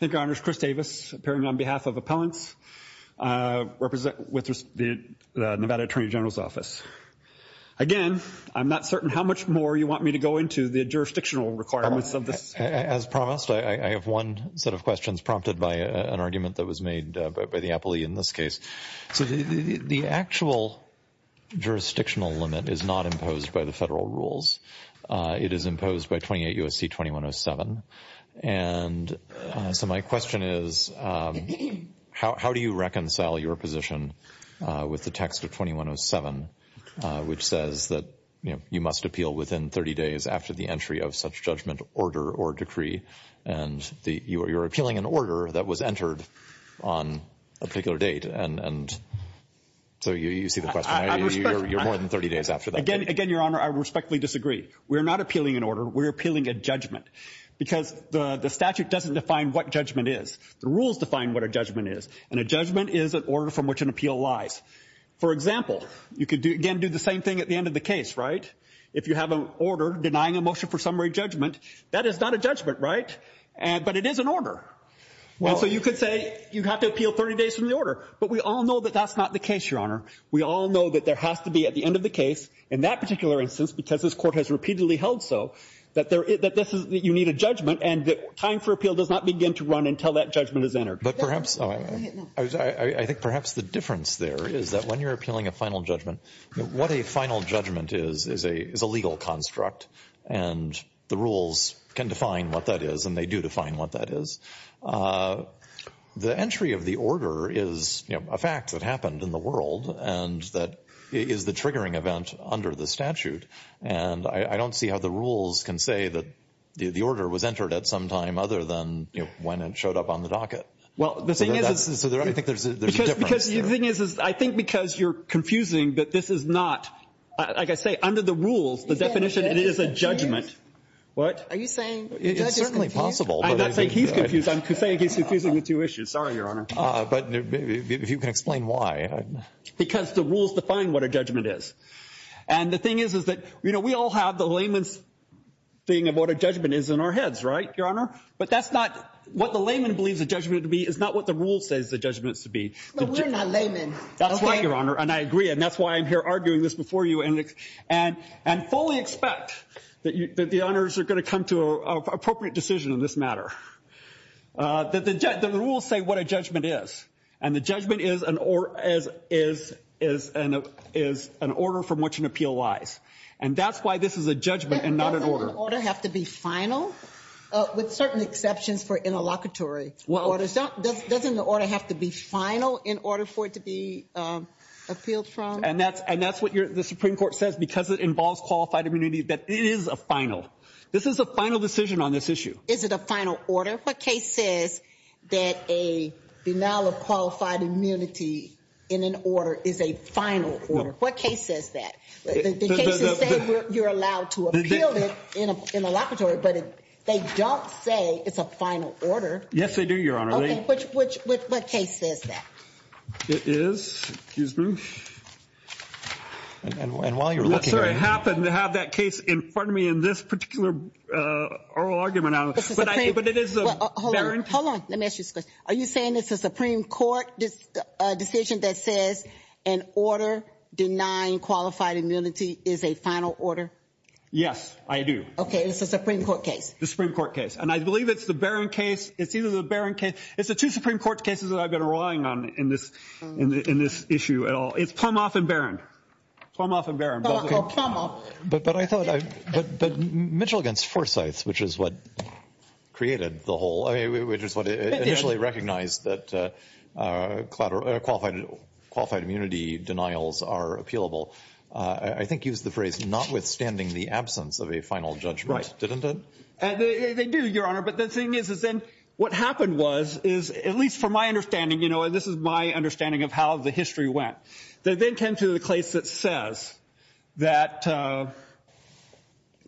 Thank you, Your Honors. Chris Davis, appearing on behalf of Appellants with the Nevada Attorney General's Office. Again, I'm not certain how much more you want me to go into the jurisdictional requirements of this. As promised, I have one set of questions prompted by an argument that was made by the appellee in this case. The actual jurisdictional limit is not imposed by the federal rules. It is imposed by 28 U.S.C. 2107. And so my question is, how do you reconcile your position with the text of 2107, which says that, you know, you must appeal within 30 days after the entry of such judgment, order, or decree? And you're appealing an order that was entered on a particular date. And so you see the question. You're appealing more than 30 days after that. Again, Your Honor, I respectfully disagree. We're not appealing an order. We're appealing a judgment. Because the statute doesn't define what judgment is. The rules define what a judgment is. And a judgment is an order from which an appeal lies. For example, you could, again, do the same thing at the end of the case, right? If you have an order denying a motion for summary judgment, that is not a judgment, right? But it is an order. And so you could say you have to appeal 30 days from the order. But we all know that that's not the case, Your Honor. We all know that there has to be at the end of the case, in that particular instance, because this Court has repeatedly held so, that you need a judgment. And time for appeal does not begin to run until that judgment is entered. But perhaps, I think perhaps the difference there is that when you're appealing a final judgment, what a final judgment is, is a legal construct. And the rules can define what that is. And they do define what that is. The entry of the order is, you know, a fact that happened in the world and that is the triggering event under the statute. And I don't see how the rules can say that the order was entered at some time other than, you know, when it showed up on the docket. Well, the thing is, I think there's a difference there. Because the thing is, I think because you're confusing that this is not, like I say, under the rules, the definition, it is a judgment. Are you saying the judge is confused? It's certainly possible. I'm not saying he's confused. I'm saying he's confusing the two issues. Sorry, Your Honor. But if you can explain why. Because the rules define what a judgment is. And the thing is, is that, you know, we all have the layman's thing of what a judgment is in our heads, right, Your Honor? But that's not what the layman believes a judgment to be. It's not what the rule says the judgment is to be. But we're not laymen. That's right, Your Honor. And I agree. And that's why I'm here arguing this before you. And fully expect that the honors are going to come to an appropriate decision in this matter. The rules say what a judgment is. And the judgment is an order from which an appeal lies. And that's why this is a judgment and not an order. Doesn't an order have to be final? With certain exceptions for interlocutory orders. Doesn't the order have to be final in order for it to be appealed from? And that's what the Supreme Court says, because it involves qualified immunity, that it is a final. This is a final decision on this issue. Is it a final order? What case says that a denial of qualified immunity in an order is a final order? What case says that? The cases say you're allowed to appeal it in a locatory, but they don't say it's a final order. Yes, they do, Your Honor. Okay, which case says that? It is. Excuse me. And while you're looking at it. I happen to have that case in front of me in this particular oral argument, but it is the Barron. Hold on. Let me ask you this question. Are you saying it's a Supreme Court decision that says an order denying qualified immunity is a final order? Yes, I do. Okay, it's a Supreme Court case. The Supreme Court case. And I believe it's the Barron case. It's either the Barron case. It's the two Supreme Court cases that I've been relying on in this issue at all. It's Plumhoff and Barron. Plumhoff and Barron. But Mitchell against Forsyth, which is what created the whole, which is what initially recognized that qualified immunity denials are appealable, I think used the phrase not withstanding the absence of a final judgment, didn't it? They do, Your Honor. But the thing is, is then what happened was, is at least from my understanding, you know, and this is my understanding of how the history went, they then came to the case that says that,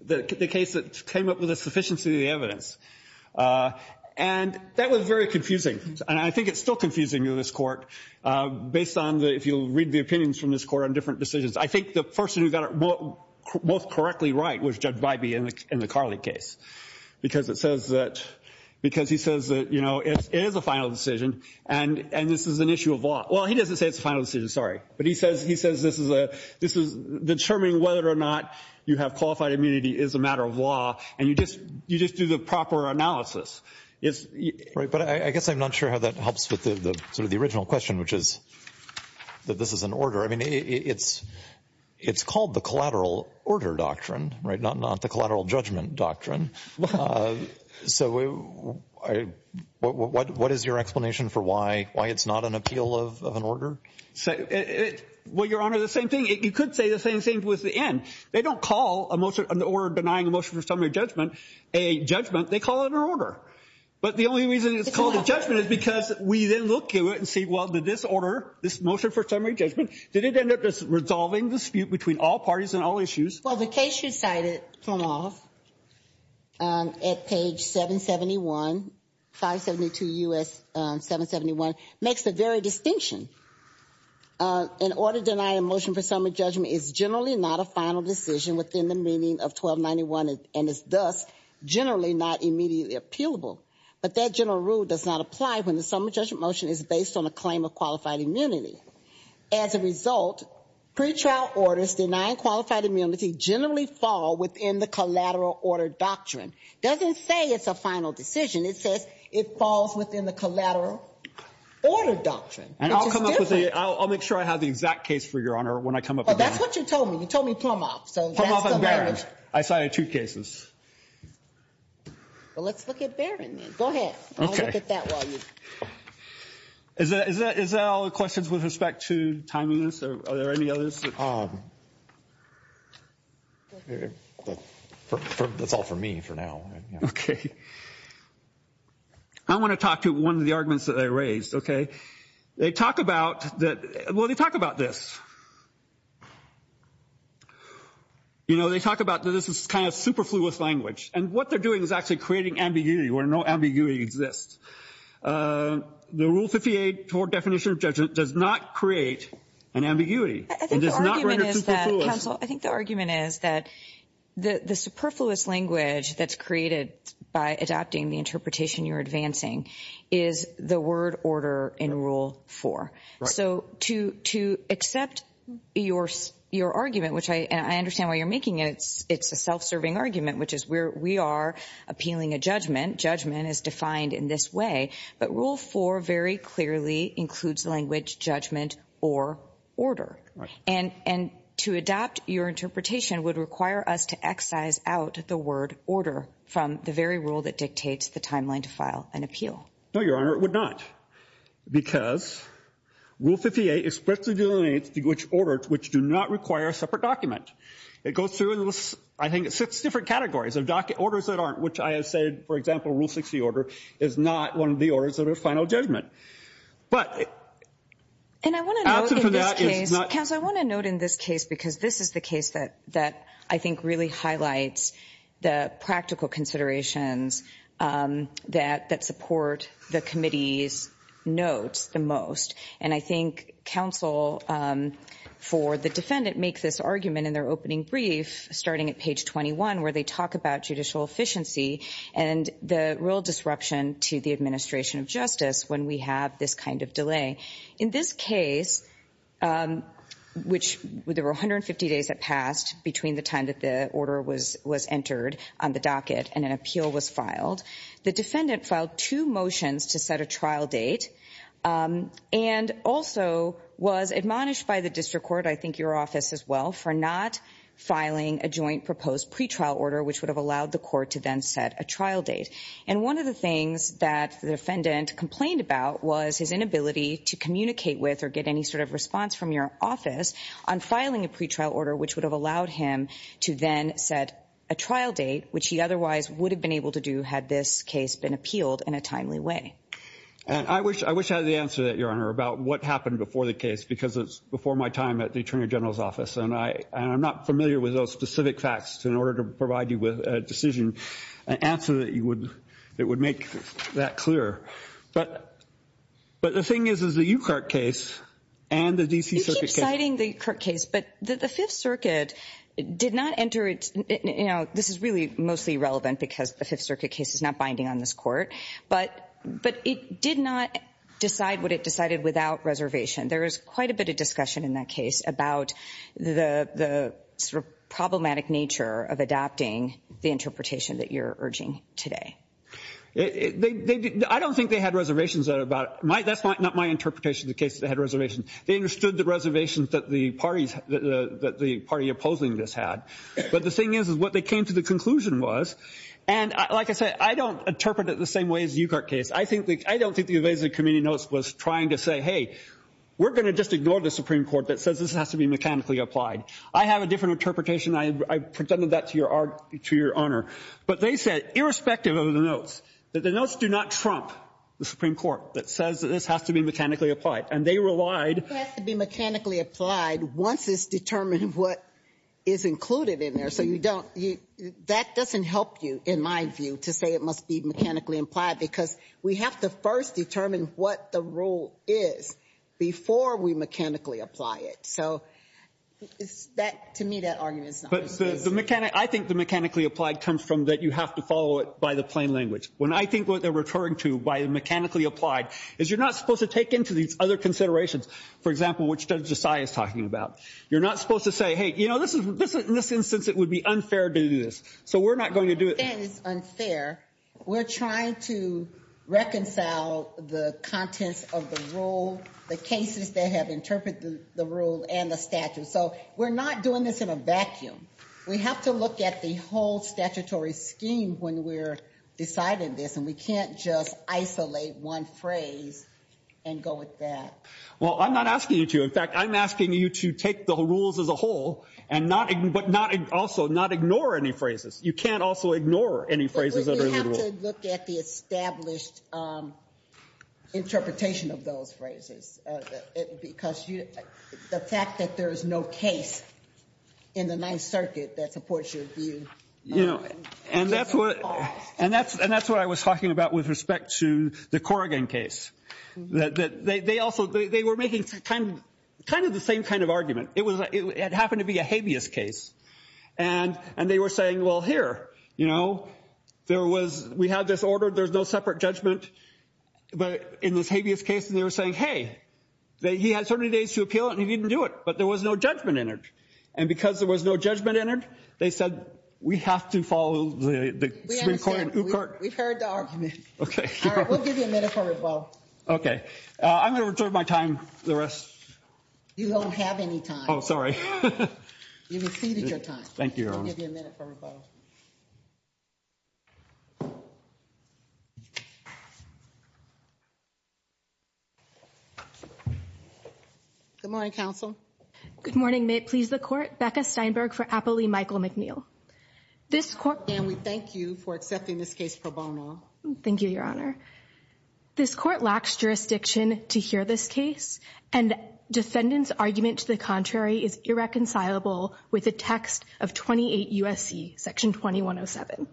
the case that came up with a sufficiency of the evidence. And that was very confusing. And I think it's still confusing to this Court based on the, if you'll read the opinions from this Court on different decisions. I think the person who got it both correctly right was Judge Bybee in the Carley case. Because it says that, because he says that, you know, it is a final decision and this is an issue of law. Well, he doesn't say it's a final decision, sorry. But he says, he says this is a, this is determining whether or not you have qualified immunity is a matter of law. And you just, you just do the proper analysis. Right. But I guess I'm not sure how that helps with the sort of the original question, which is that this is an order. I mean, it's, it's called the collateral order doctrine, right? Not the collateral judgment doctrine. So what is your explanation for why, why it's not an appeal of an order? Well, Your Honor, the same thing. You could say the same thing with the N. They don't call a motion, an order denying a motion for summary judgment, a judgment. They call it an order. But the only reason it's called a judgment is because we then look to it and see, well, did this order, this motion for summary judgment, did it end up just resolving the dispute between all parties and all issues? Well, the case you cited, Planoff, at page 771, 572 U.S. 771, makes the very distinction. An order denying a motion for summary judgment is generally not a final decision within the meaning of 1291 and is thus generally not immediately appealable. But that general rule does not apply when the summary judgment motion is based on a claim of qualified immunity. As a result, pretrial orders denying qualified immunity generally fall within the collateral order doctrine. It doesn't say it's a final decision. It says it falls within the collateral order doctrine. And I'll come up with a, I'll make sure I have the exact case for Your Honor when I come up with that. Well, that's what you told me. You told me Planoff. Planoff and Barron. I cited two cases. Well, let's look at Barron then. Go ahead. I'll look at that while you. Is that all the questions with respect to timeliness? Are there any others? That's all for me for now. Okay. I want to talk to one of the arguments that I raised, okay? They talk about, well, they talk about this. You know, they talk about that this is kind of superfluous language. And what they're doing is actually creating ambiguity where no ambiguity exists. The Rule 58 Court Definition of Judgment does not create an ambiguity. I think the argument is that, counsel, I think the argument is that the superfluous language that's created by adopting the interpretation you're advancing is the word order in Rule 4. So to accept your argument, which I understand why you're making it, it's a self-serving argument, which is where we are appealing a judgment. Judgment is defined in this way. But Rule 4 very clearly includes language, judgment, or order. And to adopt your interpretation would require us to excise out the word order from the very rule that dictates the timeline to file an appeal. No, Your Honor, it would not. Because Rule 58 expressly delineates which orders, which do not require a separate document. It goes through, I think, six different categories of orders that aren't, which I have said, for example, Rule 60 order is not one of the orders that are final judgment. But... And I want to note in this case, because this is the case that I think really highlights the practical considerations that support the committee's notes the most. And I think counsel for the defendant make this argument in their opening brief, starting at page 21, where they talk about judicial efficiency and the real disruption to the administration of justice when we have this kind of delay. In this case, which there were 150 days that passed between the time that the order was entered on the docket and an appeal was filed, the defendant filed two motions to set a trial date and also was admonished by the district court, I think your office as well, for not filing a joint proposed pretrial order, which would have allowed the court to then set a trial date. And one of the things that the defendant complained about was his inability to communicate with or get any sort of response from your office on filing a pretrial order, which would have allowed him to then set a trial date, which he otherwise would have been able to do had this case been appealed in a timely way. And I wish I had the answer to that, Your Honor, about what happened before the case, because it's before my time at the Attorney General's office. And I'm not familiar with those specific facts in order to provide you with a decision, an answer that would make that clear. But the thing is, is the Yukart case and the D.C. You keep citing the Yukart case, but the Fifth Circuit did not enter it. You know, this is really mostly relevant because the Fifth Circuit case is not binding on this court. But it did not decide what it decided without reservation. There is quite a bit of discussion in that case about the sort of problematic nature of adapting the interpretation that you're urging today. I don't think they had reservations about it. That's not my interpretation of the case. They had reservations. They understood the reservations that the party opposing this had. But the thing is, is what they came to the conclusion was, and like I said, I don't interpret it the same way as the Yukart case. I don't think the advisory committee notes was trying to say, hey, we're going to just ignore the Supreme Court that says this has to be mechanically applied. I have a different interpretation. I presented that to Your Honor. But they said, irrespective of the notes, that the notes do not trump the Supreme Court that says that this has to be mechanically applied. And they relied. It has to be mechanically applied once it's determined what is included in there. So you don't, that doesn't help you, in my view, to say it must be mechanically applied because we have to first determine what the rule is before we mechanically apply it. So to me, that argument is not reasonable. I think the mechanically applied comes from that you have to follow it by the plain language. When I think what they're referring to by mechanically applied is you're not supposed to take into these other considerations, for example, what Judge Desai is talking about. You're not supposed to say, hey, you know, in this instance it would be unfair to do this. So we're not going to do it. I'm not saying it's unfair. We're trying to reconcile the contents of the rule, the cases that have interpreted the rule and the statute. So we're not doing this in a vacuum. We have to look at the whole statutory scheme when we're deciding this. And we can't just isolate one phrase and go with that. Well, I'm not asking you to. In fact, I'm asking you to take the rules as a whole but not also not ignore any phrases. You can't also ignore any phrases that are in the rule. But we have to look at the established interpretation of those phrases because the fact that there is no case in the Ninth Circuit that supports your view. And that's what I was talking about with respect to the Corrigan case. They were making kind of the same kind of argument. It happened to be a habeas case. And they were saying, well, here, you know, we have this order. There's no separate judgment. But in this habeas case, they were saying, hey, he had so many days to appeal it and he didn't do it. But there was no judgment in it. And because there was no judgment in it, they said we have to follow the Supreme Court. We've heard the argument. Okay. We'll give you a minute for rebuttal. Okay. I'm going to return my time. The rest. You don't have any time. Oh, sorry. You've exceeded your time. Thank you, Your Honor. We'll give you a minute for rebuttal. Good morning, counsel. Good morning. May it please the Court. Becca Steinberg for Applee. Michael McNeil. This Court. And we thank you for accepting this case pro bono. Thank you, Your Honor. This Court lacks jurisdiction to hear this case. And defendant's argument to the contrary is irreconcilable with the text of 28 U.S.C. Section 2107.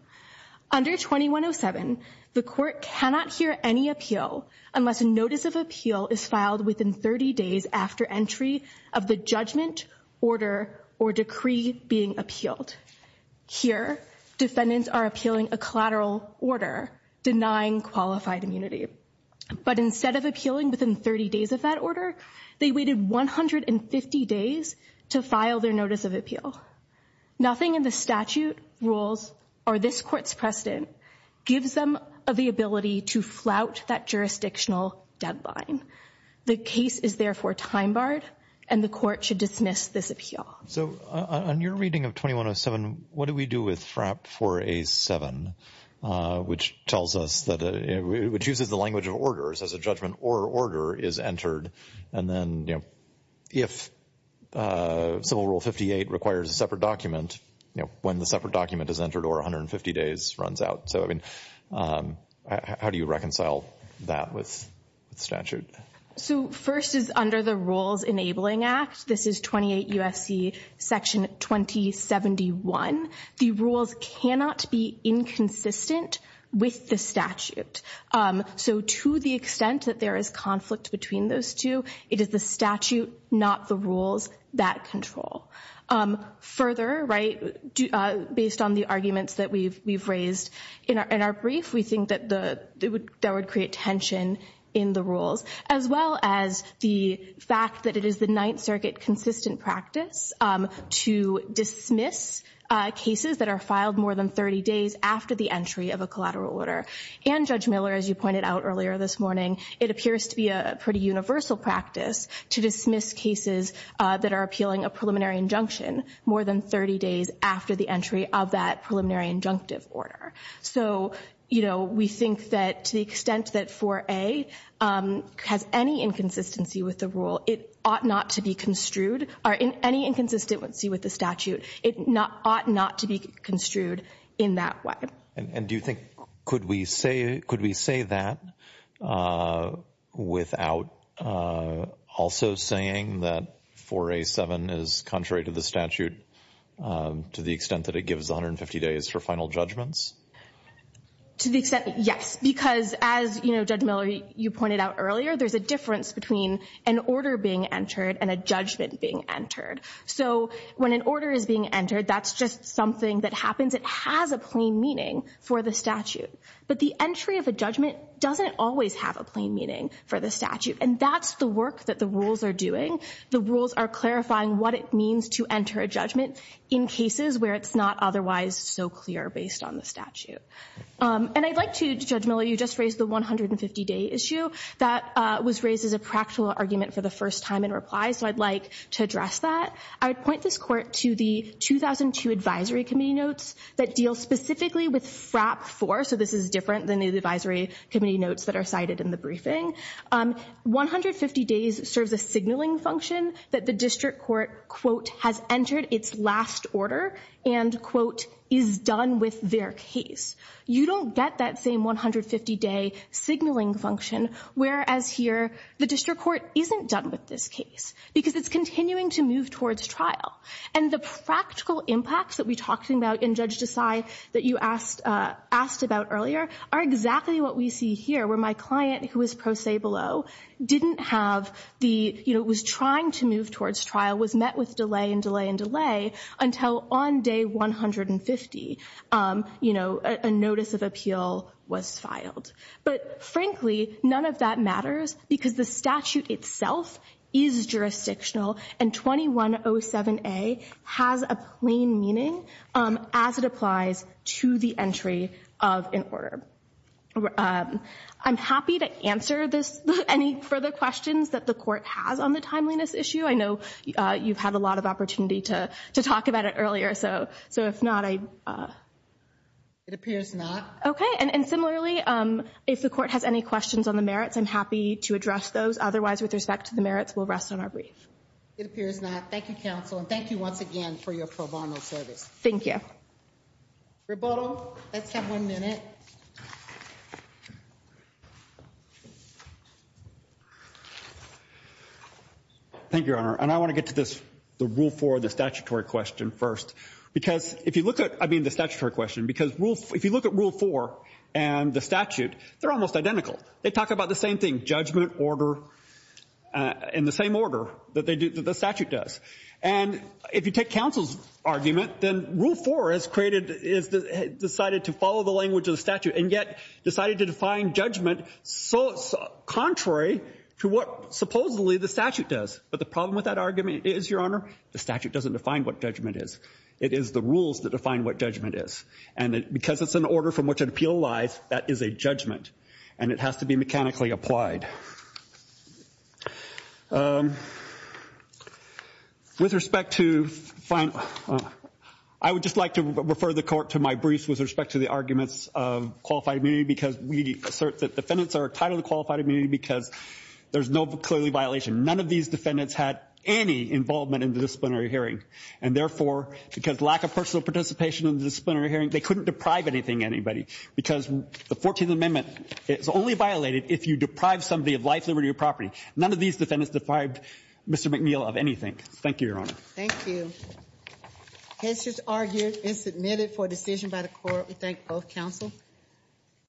Under 2107, the Court cannot hear any appeal unless a notice of appeal is filed within 30 days after entry of the judgment, order, or decree being appealed. Here, defendants are appealing a collateral order denying qualified immunity. But instead of appealing within 30 days of that order, they waited 150 days to file their notice of appeal. Nothing in the statute, rules, or this Court's precedent gives them the ability to flout that jurisdictional deadline. The case is therefore time-barred, and the Court should dismiss this appeal. So on your reading of 2107, what do we do with FRAP 4A-7, which tells us that it uses the language of orders as a judgment or order is entered, and then, you know, if Civil Rule 58 requires a separate document, you know, when the separate document is entered or 150 days runs out. So, I mean, how do you reconcile that with the statute? So first is under the Rules Enabling Act. This is 28 U.S.C. Section 2071. The rules cannot be inconsistent with the statute. So to the extent that there is conflict between those two, it is the statute, not the rules, that control. Further, right, based on the arguments that we've raised in our brief, we think that that would create tension in the rules, as well as the fact that it is the Ninth Circuit consistent practice to dismiss cases that are filed more than 30 days after the entry of a collateral order. And, Judge Miller, as you pointed out earlier this morning, it appears to be a pretty universal practice to dismiss cases that are appealing a preliminary injunction more than 30 days after the entry of that preliminary injunctive order. So, you know, we think that to the extent that 4A has any inconsistency with the rule, it ought not to be construed, or any inconsistency with the statute, it ought not to be construed in that way. And do you think, could we say that without also saying that 4A-7 is contrary to the statute to the extent that it gives 150 days for final judgments? To the extent, yes, because as, you know, Judge Miller, you pointed out earlier, there's a difference between an order being entered and a judgment being entered. So when an order is being entered, that's just something that happens. It has a plain meaning for the statute. But the entry of a judgment doesn't always have a plain meaning for the statute. And that's the work that the rules are doing. The rules are clarifying what it means to enter a judgment in cases where it's not otherwise so clear based on the statute. And I'd like to, Judge Miller, you just raised the 150-day issue. That was raised as a practical argument for the first time in reply. So I'd like to address that. I would point this Court to the 2002 advisory committee notes that deal specifically with FRAP 4. So this is different than the advisory committee notes that are cited in the briefing. 150 days serves a signaling function that the district court, quote, has entered its last order and, quote, is done with their case. You don't get that same 150-day signaling function, whereas here the district court isn't done with this case because it's continuing to move towards trial. And the practical impacts that we talked about in Judge Desai that you asked about earlier are exactly what we see here, where my client, who is pro se below, didn't have the, you know, was trying to move towards trial, was met with delay and delay and delay until on day 150, you know, a notice of appeal was filed. But, frankly, none of that matters because the statute itself is jurisdictional, and 2107A has a plain meaning as it applies to the entry of an order. I'm happy to answer this, any further questions that the Court has on the timeliness issue. I know you've had a lot of opportunity to talk about it earlier, so if not, I. It appears not. Okay. And similarly, if the Court has any questions on the merits, I'm happy to address those. Otherwise, with respect to the merits, we'll rest on our brief. It appears not. Thank you, counsel, and thank you once again for your pro bono service. Thank you. Rebuttal. Let's have one minute. Yes. Thank you, Your Honor, and I want to get to this, the Rule 4, the statutory question first. Because if you look at, I mean the statutory question, because if you look at Rule 4 and the statute, they're almost identical. They talk about the same thing, judgment, order, in the same order that the statute does. And if you take counsel's argument, then Rule 4 has decided to follow the language of the statute, and yet decided to define judgment contrary to what supposedly the statute does. But the problem with that argument is, Your Honor, the statute doesn't define what judgment is. It is the rules that define what judgment is. And because it's an order from which an appeal lies, that is a judgment, and it has to be mechanically applied. With respect to final, I would just like to refer the court to my briefs with respect to the arguments of qualified immunity, because we assert that defendants are entitled to qualified immunity because there's no clearly violation. None of these defendants had any involvement in the disciplinary hearing. And therefore, because lack of personal participation in the disciplinary hearing, they couldn't deprive anything anybody. Because the 14th Amendment is only violated if you deprive somebody of life, liberty, or property. None of these defendants deprived Mr. McNeil of anything. Thank you, Your Honor. Thank you. The case is argued and submitted for decision by the court. We thank both counsel.